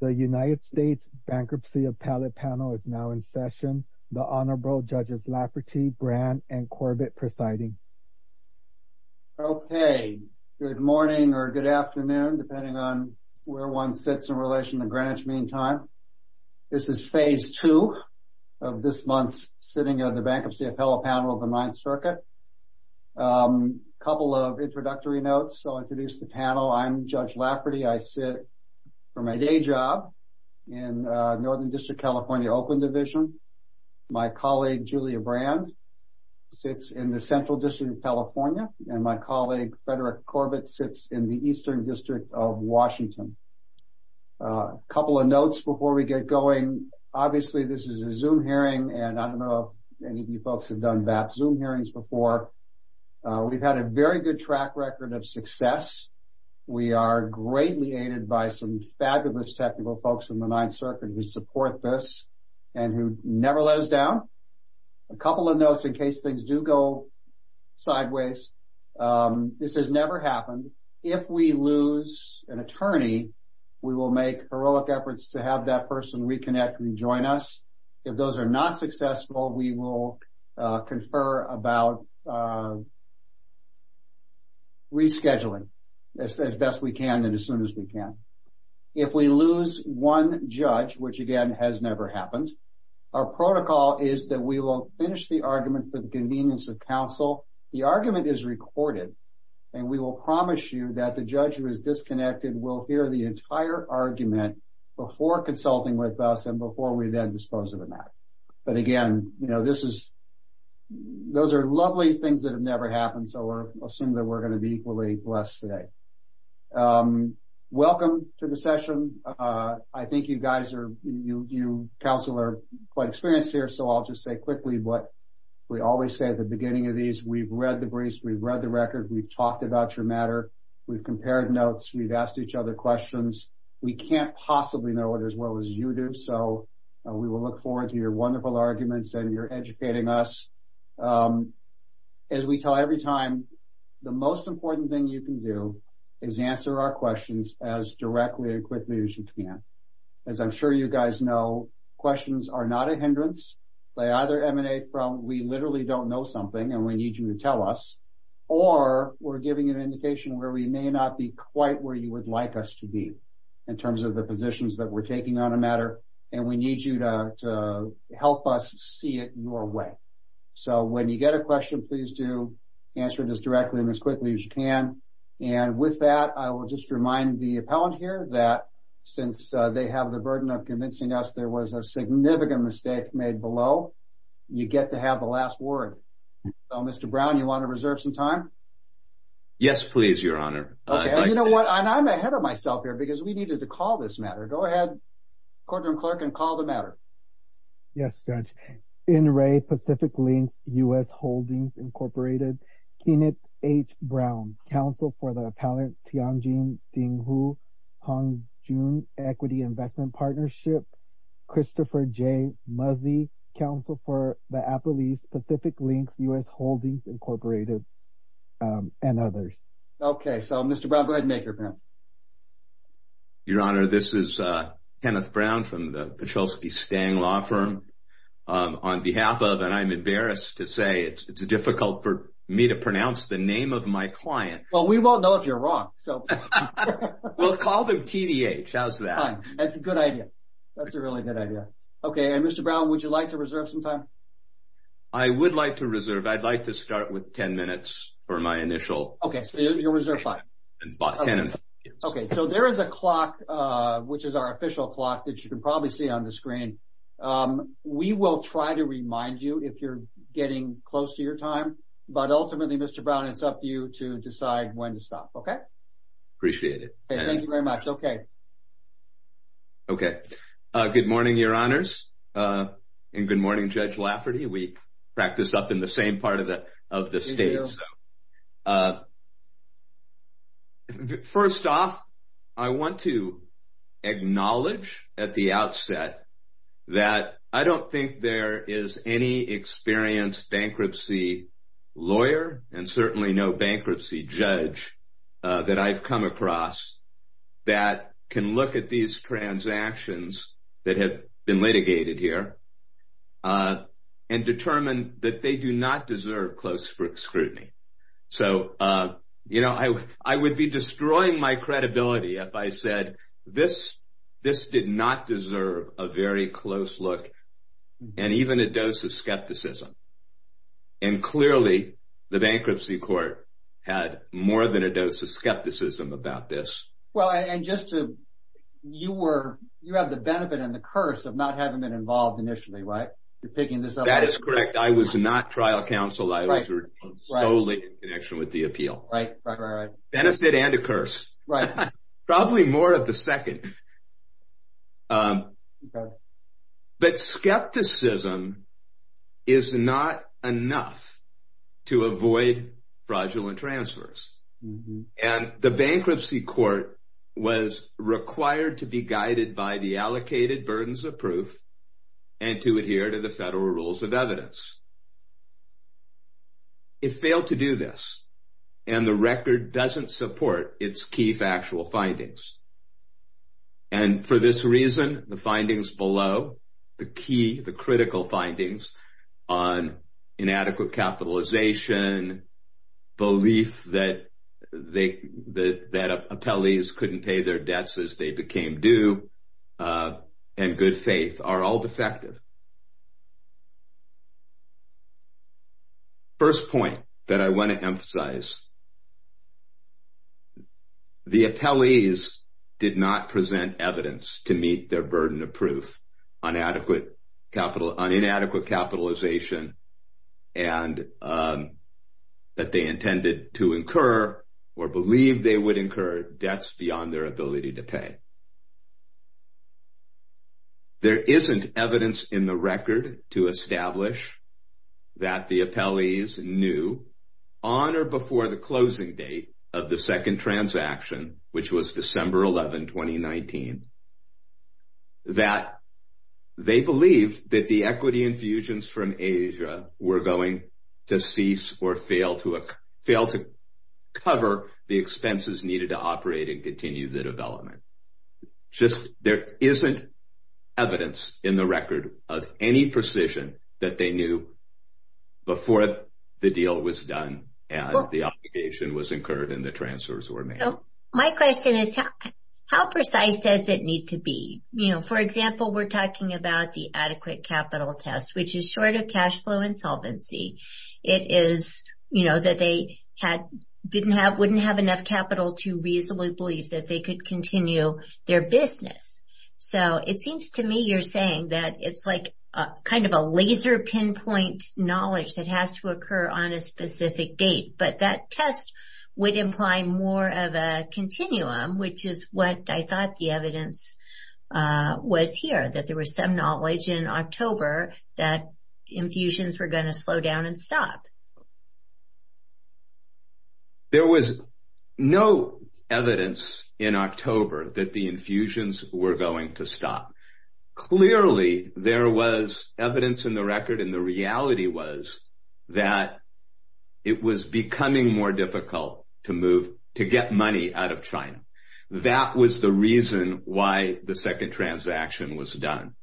The United States Bankruptcy Appellate Panel is now in session. The Honorable Judges Lafferty, Brandt, and Corbett presiding. Okay. Good morning or good afternoon, depending on where one sits in relation to Greenwich Meantime. This is phase two of this month's sitting of the Bankruptcy Appellate Panel of the Ninth Circuit. A couple of introductory notes, I'll introduce the panel. I'm Judge Lafferty. I sit for my day job in Northern District, California, Oakland Division. My colleague, Julia Brandt, sits in the Central District of California. And my colleague, Frederick Corbett, sits in the Eastern District of Washington. Couple of notes before we get going. Obviously, this is a Zoom hearing, and I don't know if any of you folks have done VAP Zoom hearings before. We've had a very good track record of success. We are greatly aided by some fabulous technical folks in the Ninth Circuit who support this and who never let us down. A couple of notes in case things do go sideways. This has never happened. If we lose an attorney, we will make heroic efforts to have that person reconnect and join us. If those are not successful, we will confer about rescheduling as best we can and as soon as we can. If we lose one judge, which again has never happened, our protocol is that we will finish the argument for the convenience of counsel. The argument is recorded, and we will promise you that the judge who is disconnected will hear the entire argument before consulting with us and before we then dispose of the matter. But again, those are lovely things that have never happened, so I assume that we're going to be equally blessed today. Welcome to the session. I think you guys, you counsel, are quite experienced here, so I'll just say quickly what we always say at the beginning of these. We've read the briefs. We've read the record. We've talked about your matter. We've compared notes. We've asked each other questions. We can't possibly know it as well as you do, so we will look forward to your wonderful arguments and your educating us. As we tell every time, the most important thing you can do is answer our questions as directly and quickly as you can. As I'm sure you guys know, questions are not a hindrance. They either emanate from we literally don't know something and we need you to tell us, or we're giving you an indication where we may not be quite where you would like us to be in terms of the positions that we're taking on a matter, and we need you to help us see it your way. So when you get a question, please do answer it as directly and as quickly as you can. And with that, I will just remind the appellant here that since they have the burden of convincing us there was a significant mistake made below, you get to have the last word. Mr. Brown, you want to reserve some time? Yes, please, Your Honor. You know what? I'm ahead of myself here because we needed to call this matter. Go ahead, Courtroom Clerk, and call the matter. Yes, Judge. N. Ray, Pacific Links, U.S. Holdings, Incorporated. Kenit H. Brown, Counsel for the Appellant Tianjin Dinghu Hongjun Equity Investment Partnership, Christopher J. Muzzy, Counsel for the Appellees, Pacific Links, U.S. Holdings, Incorporated, and others. Okay, so Mr. Brown, go ahead and make your appearance. Your Honor, this is Kenneth Brown from the Petrulski Stang Law Firm. On behalf of, and I'm embarrassed to say, it's difficult for me to pronounce the name of my client. Well, we won't know if you're wrong, so. We'll call them TDH. How's that? That's a good idea. That's a really good idea. Okay, and Mr. Brown, would you like to reserve some time? I would like to reserve. I'd like to start with 10 minutes for my initial. Okay, so you'll reserve five. Okay, so there is a clock, which is our official clock that you can probably see on the screen. We will try to remind you if you're getting close to your time, but ultimately, Mr. Brown, it's up to you to decide when to stop, okay? Appreciate it. Thank you very much. Okay. Okay, good morning, Your Honors, and good morning, Judge Lafferty. We practice up in the same part of the state, so. First off, I want to acknowledge at the outset that I don't think there is any experienced bankruptcy lawyer and certainly no bankruptcy judge that I've come across that can look at these transactions that have been litigated here and determine that they do not deserve close scrutiny. So, you know, I would be destroying my credibility if I said this did not deserve a very close look and even a dose of skepticism. And clearly, the bankruptcy court had more than a dose of skepticism about this. Well, and just to, you were, you have the benefit and the curse of not having been involved initially, right? You're picking this up. That is correct. I was not trial counsel. I was solely in connection with the appeal. Right, right, right, right. Benefit and a curse. Right. Probably more of the second. Okay. But skepticism is not enough to avoid fraudulent transfers. And the bankruptcy court was required to be guided by the allocated burdens of proof and to adhere to the federal rules of evidence. It failed to do this, and the record doesn't support its key factual findings. And for this reason, the findings below, the key, the critical findings on inadequate capitalization, belief that they, that appellees couldn't pay their debts as they became due, and good faith are all defective. First point that I want to emphasize, the appellees did not present evidence to meet their burden of proof on inadequate capitalization and that they intended to incur or believe they would incur debts beyond their ability to pay. There isn't evidence in the record to establish that the appellees knew on or before the closing date of the second transaction, which was December 11, 2019, that they believed that the equity infusions from Asia were going to cease or fail to cover the expenses needed to operate and continue the development. Just, there isn't evidence in the record of any precision that they knew before the deal was done and the obligation was incurred and the transfers were made. My question is, how precise does it need to be? You know, for example, we're talking about the adequate capital test, which is short of cash flow insolvency. It is, you know, that they had, didn't have, wouldn't have enough capital to reasonably believe that they could continue their business. So, it seems to me you're saying that it's like kind of a laser pinpoint knowledge that has to occur on a specific date, but that test would imply more of a continuum, which is what I thought the evidence was here, that there was some knowledge in October that infusions were going to slow down and stop. There was no evidence in October that the infusions were going to stop. Clearly, there was evidence in the record and the reality was that it was becoming more difficult to move, to get money out of China. That was the reason why the second transaction was done.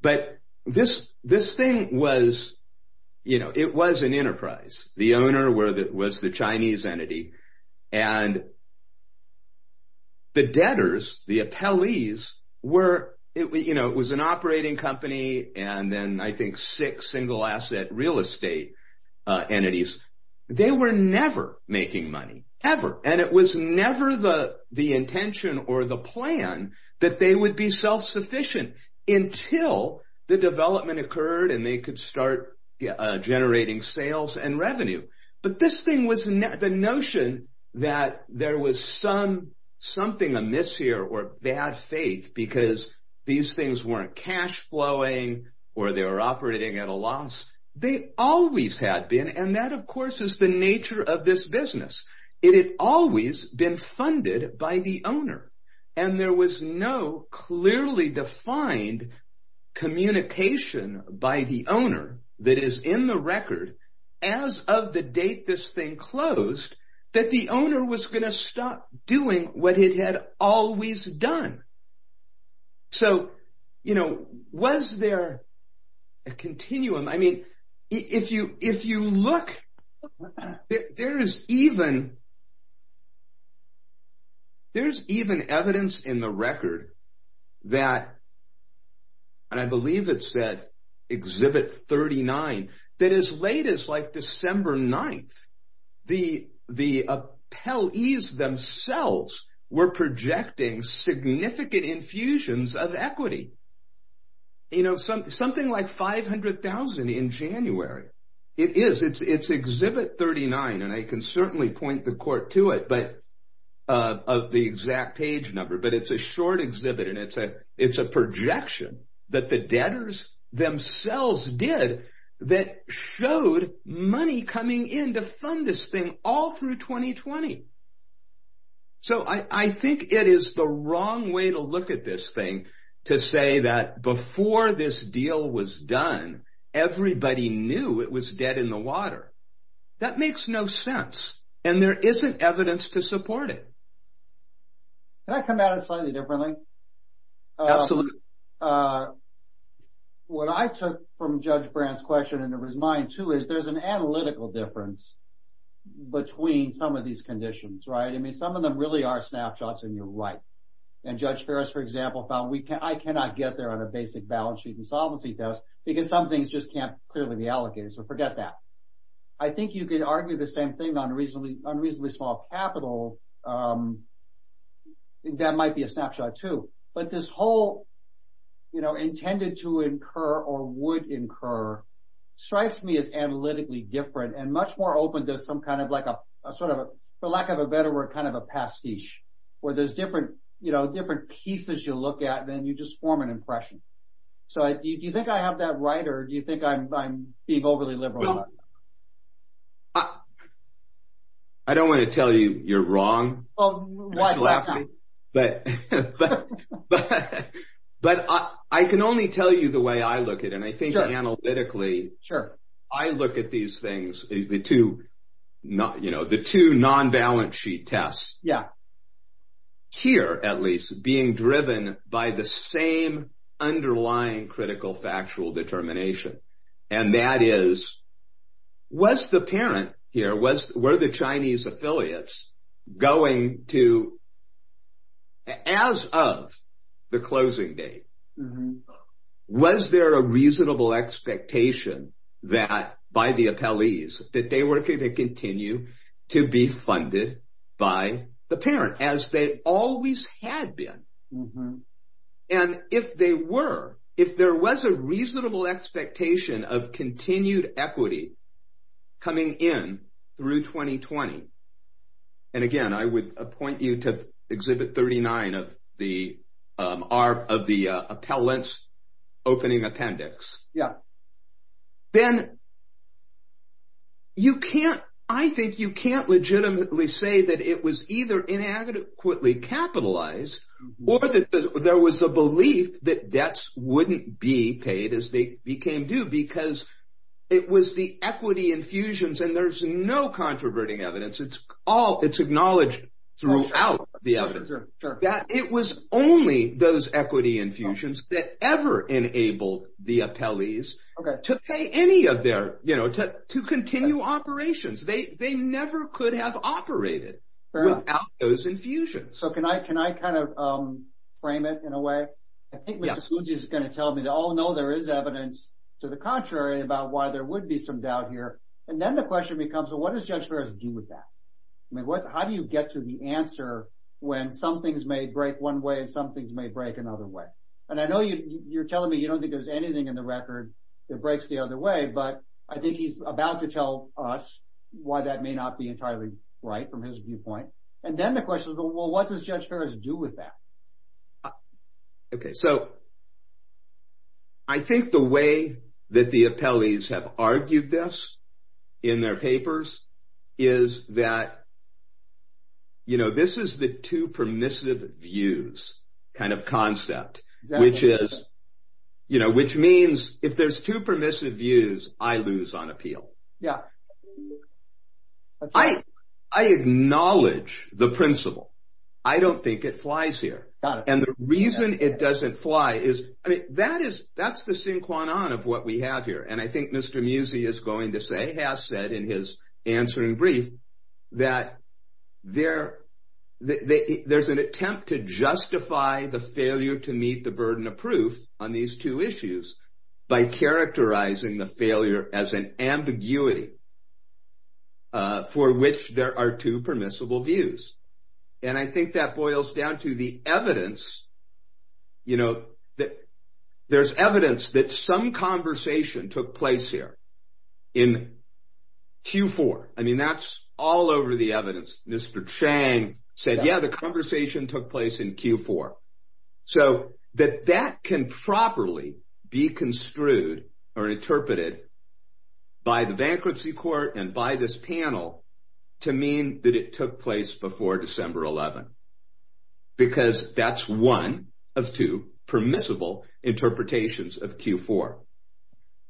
But this, this thing was, you know, it was an enterprise. The owner was the Chinese entity and the debtors, the appellees were, you know, it was an operating company and then I think six single asset real estate entities. They were never making money, ever. And it was never the intention or the plan that they would be self-sufficient until the development occurred and they could start generating sales and revenue. But this thing was, the notion that there was some, something amiss here or they had faith because these things weren't cash flowing or they were operating at a loss. They always had been and that, of course, is the nature of this business. It had always been funded by the owner and there was no clearly defined communication by the owner that is in the record as of the date this thing closed that the owner was going to stop doing what it had always done. So, you know, was there a continuum? I mean, if you, if you look, there is even, there's even evidence in the record that, and I believe it's at Exhibit 39, that as late as like December 9th, the, the appellees themselves were projecting significant infusions of equity. You know, something like 500,000 in January. It is, it's, it's Exhibit 39 and I can certainly point the court to it, but, of the exact page number, but it's a short exhibit and it's a, it's a projection that the debtors themselves did that showed money coming in to fund this thing all through 2020. So, I, I think it is the wrong way to look at this thing to say that before this deal was done, everybody knew it was dead in the water. That makes no sense and there isn't evidence to support it. Can I come at it slightly differently? Absolutely. What I took from Judge Brand's question and it was mine too, is there's an analytical difference between some of these conditions, right? I mean, some of them really are snapshots and you're right. And Judge Ferris, for example, found we can, I cannot get there on a basic balance sheet and solvency test because some things just can't clearly be allocated, so forget that. I think you could argue the same thing on reasonably, on reasonably small capital. That might be a snapshot too. But this whole, you know, intended to incur or would incur strikes me as analytically different and much more open to some kind of like a sort of, for lack of a better word, kind of a pastiche where there's different, you know, different pieces you look at and then you just form an impression. So, do you think I have that right or do you think I'm being overly liberal? I don't want to tell you you're wrong. Well, why not? But I can only tell you the way I look at it and I think analytically, I look at these things, the two, you know, the two non-balance sheet tests. Yeah. Here, at least, being driven by the same underlying critical factual determination and that is, was the parent here, were the Chinese affiliates going to, as of the closing date, was there a reasonable expectation that by the appellees, that they were going to continue to be funded by the parent as they always had been? And if they were, if there was a reasonable expectation of continued equity coming in through 2020, and again, I would appoint you to exhibit 39 of the appellants opening appendix. Yeah. Then, you can't, I think you can't legitimately say that it was either inadequately capitalized or that there was a belief that debts wouldn't be paid as they became due because it was the equity infusions and there's no controverting evidence. It's all, it's acknowledged throughout the evidence that it was only those equity infusions that ever enabled the appellees to pay any of their, you know, to continue operations. They never could have operated without those infusions. So, can I kind of frame it in a way? I think Mr. Sousa is going to tell me, oh, no, there is evidence to the contrary about why there would be some doubt here. And then the question becomes, well, what does Judge Ferris do with that? I mean, how do you get to the answer when some things may break one way and some things may break another way? And I know you're telling me you don't think there's anything in the record that breaks the other way, but I think he's about to tell us why that may not be entirely right from his viewpoint. And then the question is, well, what does Judge Ferris do with that? Okay. So, I think the way that the appellees have argued this in their papers is that, you know, this is the two permissive views kind of concept, which is, you know, which means if there's two permissive views, I lose on appeal. Yeah. I acknowledge the principle. I don't think it flies here. Got it. And the reason it doesn't fly is, I mean, that is, that's the sin cuanon of what we have here. And I think Mr. Musi is going to say, has said in his answer in brief, that there's an attempt to justify the failure to meet the burden of proof on these two issues by characterizing the failure as an ambiguity for which there are two permissible views. And I think that boils down to the evidence, you know, that there's evidence that some conversation took place here in Q4. I mean, that's all over the evidence. Mr. Chang said, yeah, the conversation took place in Q4. So, that that can properly be construed or interpreted by the bankruptcy court and by this panel to mean that it took place before December 11, because that's one of two permissible interpretations of Q4.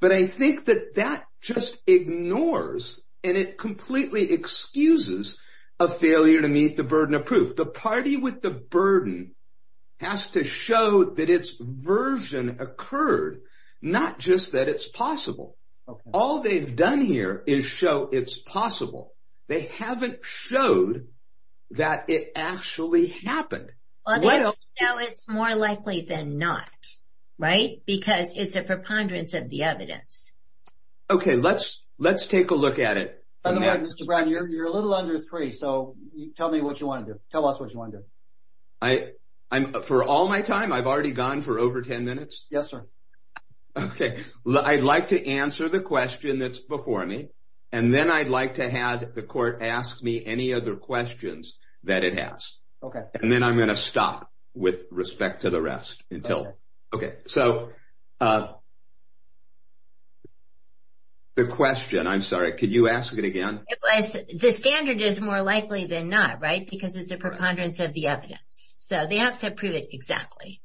But I think that that just ignores and it completely excuses a failure to meet the burden of proof. The party with the burden has to show that its version occurred, not just that it's possible. All they've done here is show it's possible. They haven't showed that it actually happened. Well, they don't know it's more likely than not, right? Because it's a preponderance of the evidence. Okay, let's take a look at it. By the way, Mr. Brown, you're a little under three, so tell me what you want to do. Tell us what you want to do. For all my time, I've already gone for over 10 minutes? Yes, sir. Okay, I'd like to answer the question that's before me, and then I'd like to have the court ask me any other questions that it has. Okay. And then I'm going to stop with respect to the rest until... Okay, so the question, I'm sorry, could you ask it again? It was, the standard is more likely than not, right? Because it's a preponderance of the evidence. So they have to prove it exactly.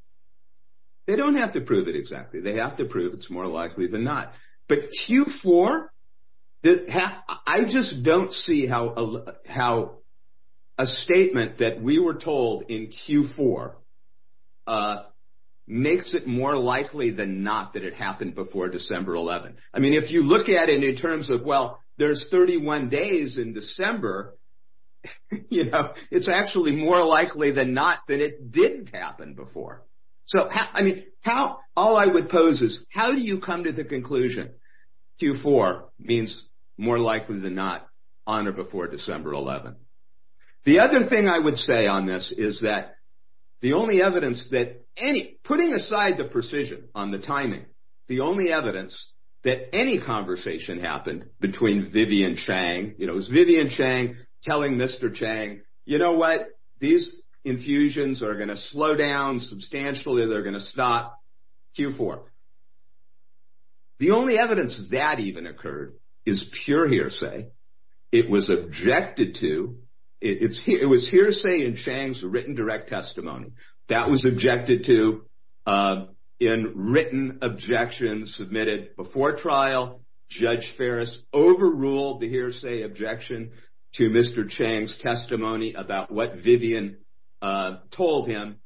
They don't have to prove it exactly. They have to prove it's more likely than not. But Q4, I just don't see how a statement that we were told in Q4 makes it more likely than not that it happened before December 11th. I mean, if you look at it in terms of, well, there's 31 days in December, it's actually more likely than not that it didn't happen before. So, I mean, how, all I would pose is, how do you come to the conclusion Q4 means more likely than not on or before December 11th? The other thing I would say on this is that the only evidence that any, putting aside the precision on the timing, the only evidence that any conversation happened between Vivian Chang, you know, is Vivian Chang telling Mr. Chang, you know what, these infusions are going to slow down substantially. They're going to stop. Q4. The only evidence that even occurred is pure hearsay. It was objected to, it was hearsay in Chang's written direct testimony. That was objected to in written objection submitted before trial. Judge Ferris overruled the hearsay objection to Mr. Chang's testimony about what Vivian told him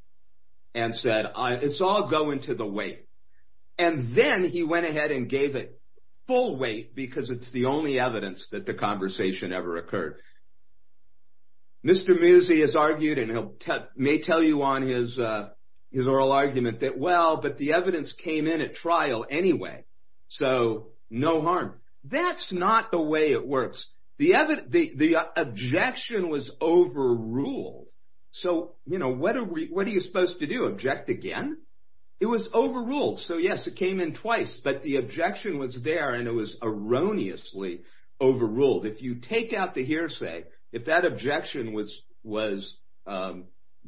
and said, it's all going to the weight. And then he went ahead and gave it full weight, because it's the only evidence that the conversation ever occurred. Mr. Musi has argued, and he may tell you on his oral argument, that well, but the evidence came in at trial anyway, so no harm. That's not the way it works. The objection was overruled. So, you know, what are you supposed to do, object again? It was overruled. So, yes, it came in twice, but the objection was there and it was erroneously overruled. If you take out the hearsay, if that objection was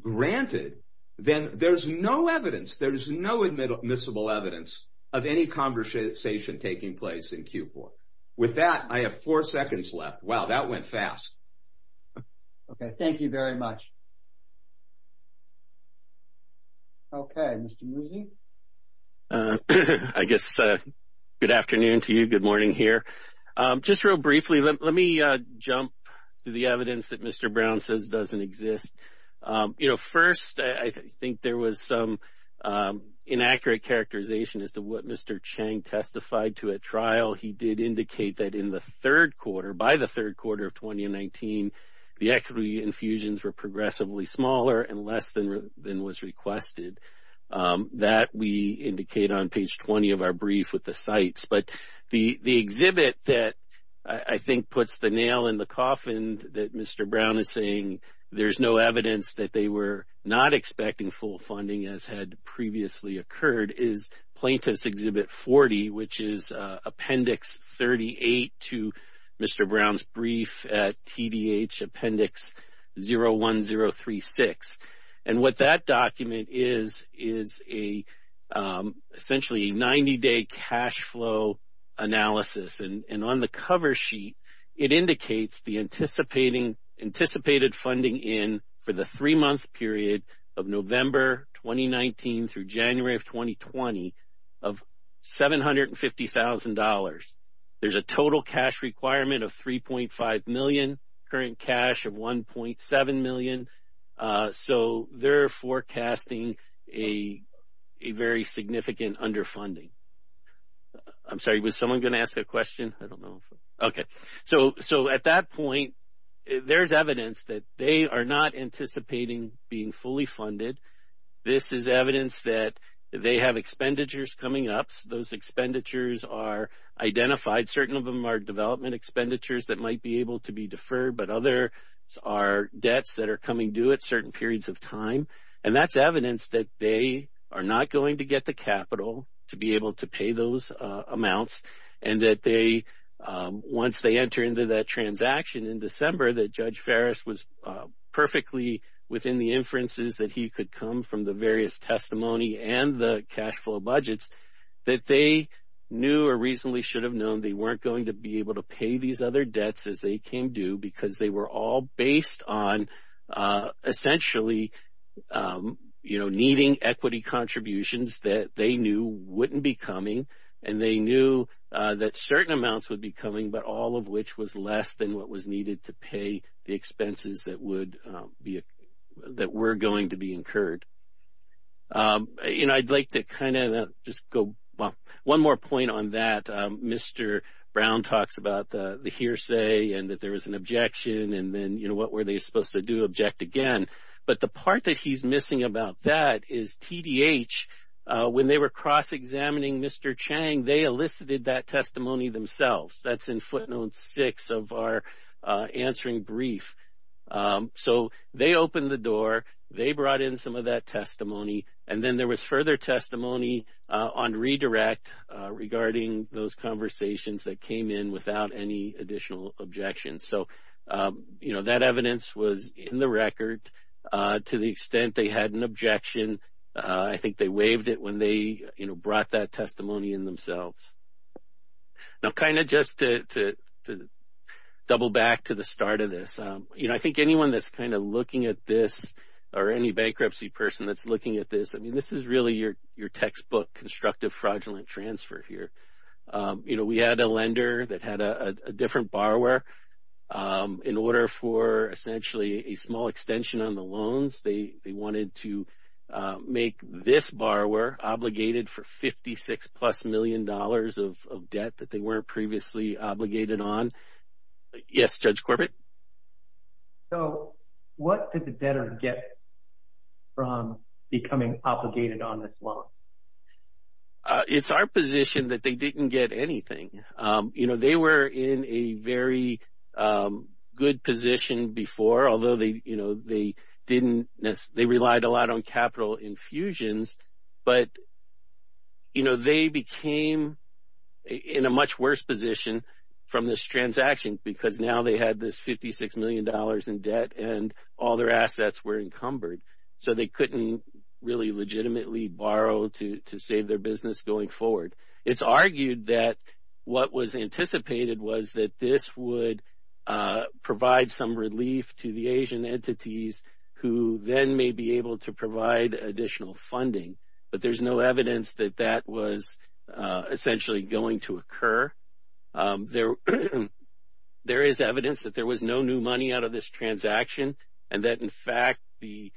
granted, then there's no evidence, there's no admissible evidence of any conversation taking place in Q4. With that, I have four seconds left. Wow, that went fast. Okay, thank you very much. Okay, Mr. Musi? I guess good afternoon to you, good morning here. Just real briefly, let me jump to the evidence that Mr. Brown says doesn't exist. You know, first, I think there was some inaccurate characterization as to what Mr. Chang testified to at trial. He did indicate that in the third quarter, by the third quarter of 2019, the equity infusions were progressively smaller and less than was requested. That we indicate on page 20 of our brief with the sites. But the exhibit that I think puts the nail in the coffin that Mr. Brown is saying, there's no evidence that they were not expecting full funding as had previously occurred, is Plaintiff's Exhibit 40, which is Appendix 38 to Mr. Brown's brief at TDH Appendix 01036. And what that document is, is essentially a 90-day cash flow analysis. And on the cover sheet, it indicates the anticipated funding in for the three-month period of November 2019 through January of 2020 of $750,000. There's a total cash requirement of $3.5 million, current cash of $1.7 million. So, they're forecasting a very significant underfunding. I'm sorry, was someone going to ask a question? I don't know. Okay. So, at that point, there's evidence that they are not anticipating being fully funded. This is evidence that they have expenditures coming up. Those expenditures are identified. Certain of them are development expenditures that might be able to be deferred, but others are debts that are coming due at certain periods of time. And that's evidence that they are not going to get the capital to be able to pay those amounts and that they, once they enter into that transaction in December, that Judge Farris was perfectly within the inferences that he could come from the various testimony and the cash flow budgets, that they knew or reasonably should have known they weren't going to be able to pay these other debts as they came due because they were all based on essentially, you know, needing equity contributions that they knew wouldn't be coming. And they knew that certain amounts would be coming, but all of which was less than what was needed to pay the expenses that would be, that were going to be incurred. You know, I'd like to kind of just go, well, one more point on that. Mr. Brown talks about the hearsay and that there was an objection and then, you know, what were they supposed to do, object again. But the part that he's missing about that is TDH, when they were cross-examining Mr. Chang, they elicited that testimony themselves. That's in footnote six of our answering brief. So, they opened the door, they brought in some of that testimony, and then there was further testimony on redirect regarding those conversations that came in without any additional objections. So, you know, that evidence was in the record to the extent they had an objection. I think they waived it when they, you know, brought that testimony in themselves. Now, kind of just to double back to the start of this, you know, I think anyone that's kind of looking at this or any bankruptcy person that's looking at this, I mean, this is really your textbook constructive fraudulent transfer here. You know, we had a lender that had a different borrower in order for essentially a small extension on the loans. They wanted to make this borrower obligated for 56 plus million dollars of debt that they weren't previously obligated on. Yes, Judge Corbett? So, what did the debtor get from becoming obligated on this loan? It's our position that they didn't get anything. You know, they were in a very good position before, although they, you know, they didn't, they relied a lot on capital infusions. But, you know, they became in a much worse position from this transaction because now they had this 56 million dollars in debt and all their assets were encumbered. So, they couldn't really legitimately borrow to save their business going forward. It's argued that what was anticipated was that this would provide some relief to the Asian entities who then may be able to provide additional funding. But, there's no evidence that that was essentially going to occur. There is evidence that there was no new money out of this transaction and that, in fact, the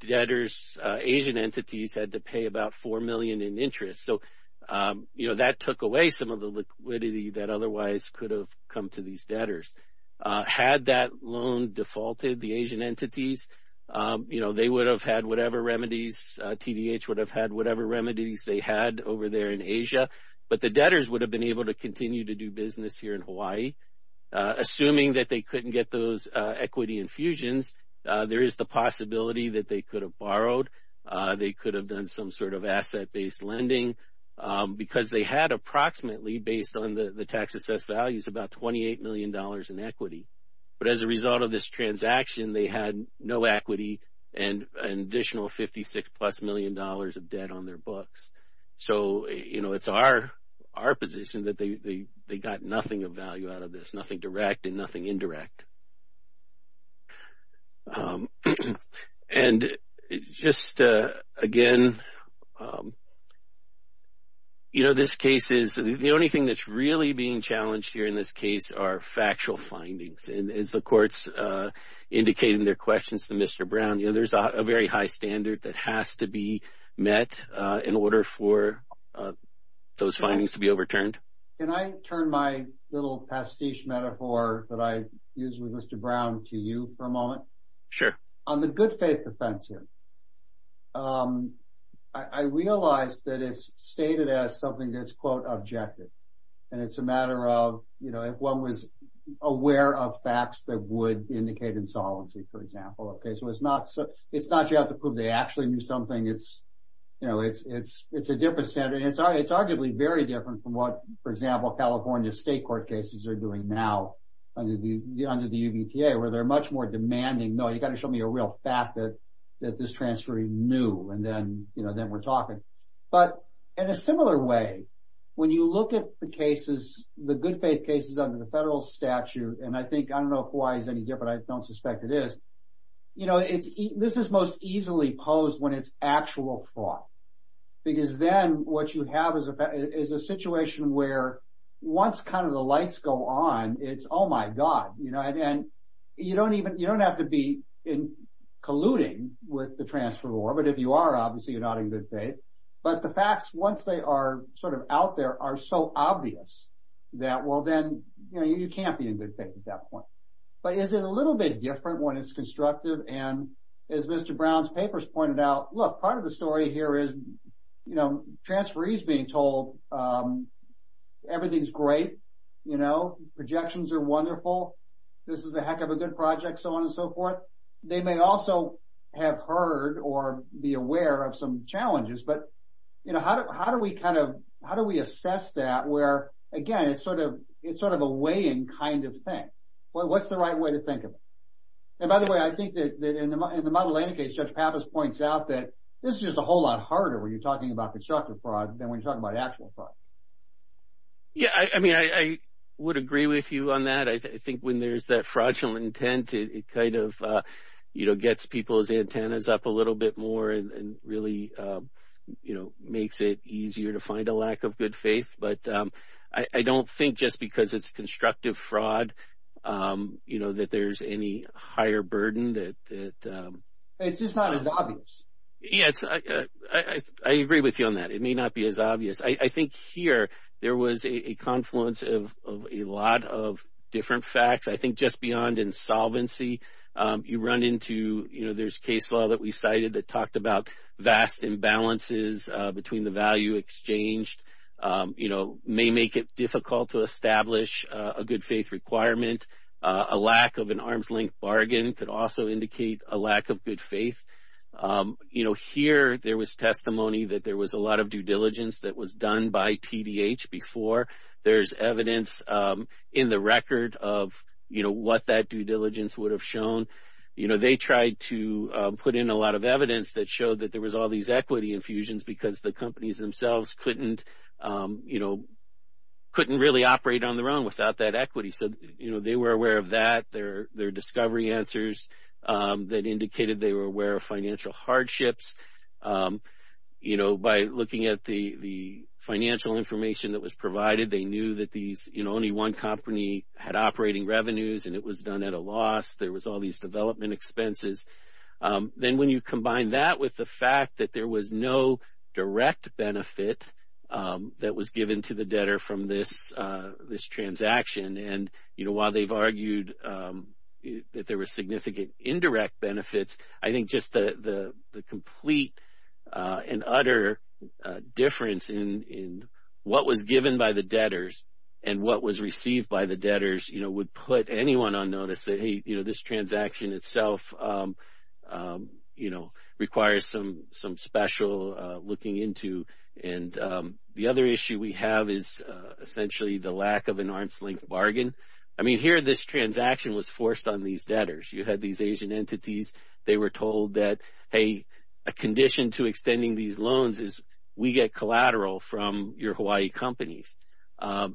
debtors, Asian entities had to pay about 4 million in interest. So, you know, that took away some of the liquidity that otherwise could have come to these debtors. Had that loan defaulted, the Asian entities, you know, they would have had whatever remedies, TDH would have had whatever remedies they had over there in Asia. But, the debtors would have been able to continue to do business here in Hawaii. Assuming that they couldn't get those equity infusions, there is the possibility that they could have borrowed. They could have done some sort of asset-based lending because they had approximately, based on the tax assessed values, about 28 million dollars in equity. But, as a result of this transaction, they had no equity and an additional 56 plus million dollars of debt on their books. So, you know, it's our position that they got nothing of value out of this, nothing direct and nothing indirect. And, just again, you know, this case is, the only thing that's really being challenged here in this case are factual findings. And, as the courts indicate in their questions to Mr. Brown, you know, a very high standard that has to be met in order for those findings to be overturned. Can I turn my little pastiche metaphor that I used with Mr. Brown to you for a moment? Sure. On the good faith defense here, I realize that it's stated as something that's, quote, objective. And, it's a matter of, you know, if one was aware of facts that would indicate insolency, for example. Okay. So, it's not you have to prove they actually knew something. It's, you know, it's a different standard. And, it's arguably very different from what, for example, California state court cases are doing now under the UBTA where they're much more demanding. No, you've got to show me a real fact that this transfer is new. And, then, you know, then we're talking. But, in a similar way, when you look at the cases, the good faith cases under the federal statute, and I think, I don't know if Hawaii is any different. I don't suspect it is. You know, this is most easily posed when it's actual fraud. Because, then, what you have is a situation where once kind of the lights go on, it's, oh, my God. You know, and you don't even, you don't have to be colluding with the transfer law. But, if you are, obviously, you're not in good faith. But, the facts, once they are sort of out there, are so obvious that, well, then, you know, you can't be in good faith at that point. But, is it a little bit different when it's constructive? And, as Mr. Brown's papers pointed out, look, part of the story here is, you know, transferees being told everything's great. You know, projections are wonderful. This is a heck of a good project, so on and so forth. They may also have heard or be aware of some challenges. But, you know, how do we kind of, how do we assess that where, again, it's sort of a weighing kind of thing? Well, what's the right way to think of it? And, by the way, I think that, in the model and the case, Judge Pappas points out that this is just a whole lot harder when you're talking about constructive fraud than when you're talking about actual fraud. Yeah, I mean, I would agree with you on that. I think when there's that fraudulent intent, it kind of, you know, gets people's antennas up a little bit more and really, you know, makes it easier to find a lack of good faith. But I don't think just because it's constructive fraud, you know, that there's any higher burden that. It's just not as obvious. Yes, I agree with you on that. It may not be as obvious. I think here there was a confluence of a lot of different facts. I think just beyond insolvency, you run into, you know, there's case law that we cited that talked about vast imbalances between the value exchanged, you know, may make it difficult to establish a good faith requirement. A lack of an arm's length bargain could also indicate a lack of good faith. You know, here there was testimony that there was a lot of due diligence that was done by TDH before. There's evidence in the record of, you know, what that due diligence would have shown. You know, they tried to put in a lot of evidence that showed that there was all these equity infusions because the companies themselves couldn't, you know, couldn't really operate on their own without that equity. So, you know, they were aware of that, their discovery answers that indicated they were aware of financial hardships. You know, by looking at the financial information that was provided, they knew that these, you know, only one company had operating revenues and it was done at a loss. There was all these development expenses. Then when you combine that with the fact that there was no direct benefit that was given to the debtor from this transaction and, you know, while they've argued that there was significant indirect benefits, I think just the complete and utter difference in what was given by the debtors and what was received by the debtors, you know, would put anyone on notice that, hey, you know, this transaction itself, you know, requires some special looking into. And the other issue we have is essentially the lack of an arm's length bargain. I mean, here this transaction was forced on these debtors. You had these Asian entities. They were told that, hey, a condition to extending these loans is we get collateral from your Hawaii companies.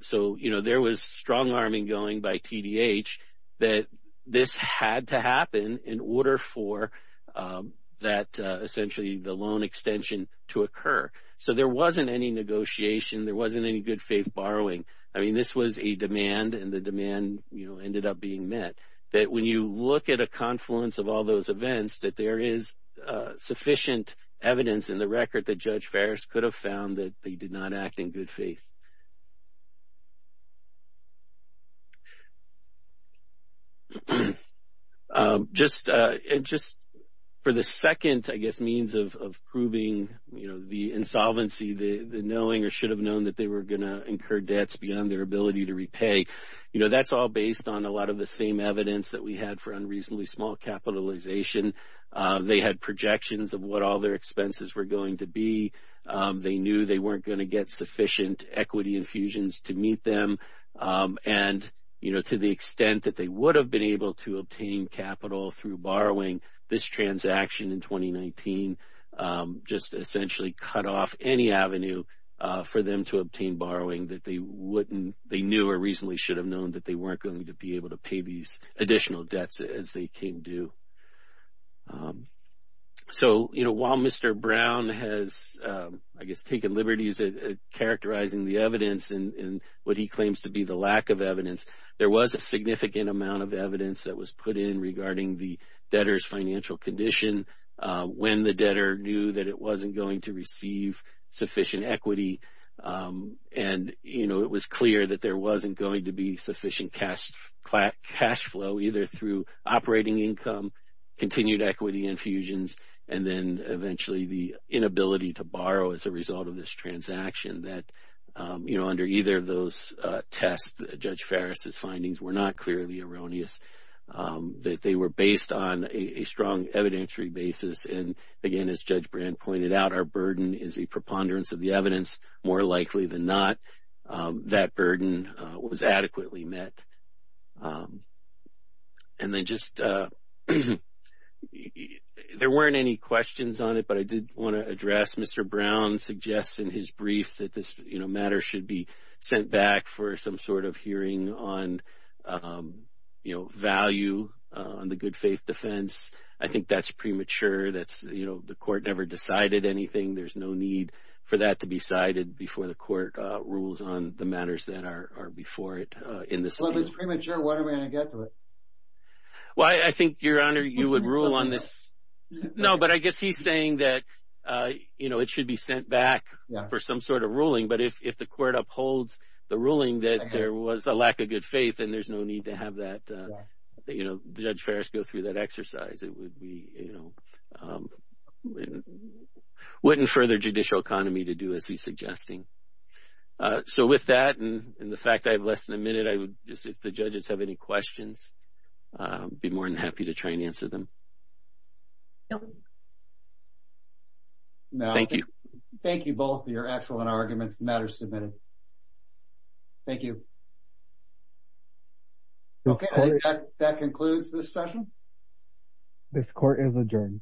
So, you know, there was strong arming going by TDH that this had to happen in order for that essentially the loan extension to occur. So, there wasn't any negotiation. There wasn't any good faith borrowing. I mean, this was a demand and the demand, you know, ended up being met. That when you look at a confluence of all those events, that there is sufficient evidence in the record that Judge Farris could have found that they did not act in good faith. Just for the second, I guess, means of proving, you know, the insolvency, the knowing or should have known that they were going to incur debts beyond their ability to repay. You know, that's all based on a lot of the same evidence that we had for unreasonably small capitalization. They had projections of what all their expenses were going to be. They knew they weren't going to get sufficient equity infusions to meet them. And, you know, to the extent that they would have been able to obtain capital through borrowing this transaction in 2019, just essentially cut off any avenue for them to obtain borrowing that they wouldn't, they knew or reasonably should have known that they weren't going to be able to pay these additional debts as they came due. So, you know, while Mr. Brown has, I guess, taken liberties at characterizing the evidence and what he claims to be the lack of evidence, there was a significant amount of evidence that was put in regarding the debtor's financial condition when the debtor knew that it wasn't going to receive sufficient equity. And, you know, it was clear that there wasn't going to be sufficient cash flow either through operating income, continued equity infusions, and then eventually the inability to borrow as a result of this transaction that, you know, under either of those tests, Judge Farris's findings were not clearly erroneous. That they were based on a strong evidentiary basis. And, again, as Judge Brand pointed out, our burden is a preponderance of the evidence. More likely than not, that burden was adequately met. And then just, there weren't any questions on it, but I did want to address, Mr. Brown suggests in his brief that this, you know, matter should be sent back for some sort of hearing on, you know, value on the good faith defense. I think that's premature. That's, you know, the court never decided anything. There's no need for that to be cited before the court rules on the matters that are before it in this case. Well, if it's premature, when are we going to get to it? Well, I think, Your Honor, you would rule on this. No, but I guess he's saying that, you know, it should be sent back for some sort of ruling. But if the court upholds the ruling that there was a lack of good faith and there's no need to have that, you know, Judge Farris go through that exercise, it would be, you know, wouldn't further judicial economy to do as he's suggesting. So, with that, and the fact I have less than a minute, I would just, if the judges have any questions, I'd be more than happy to try and answer them. Thank you. Thank you both for your excellent arguments. The matter is submitted. Thank you. Okay, I think that concludes this session. This court is adjourned.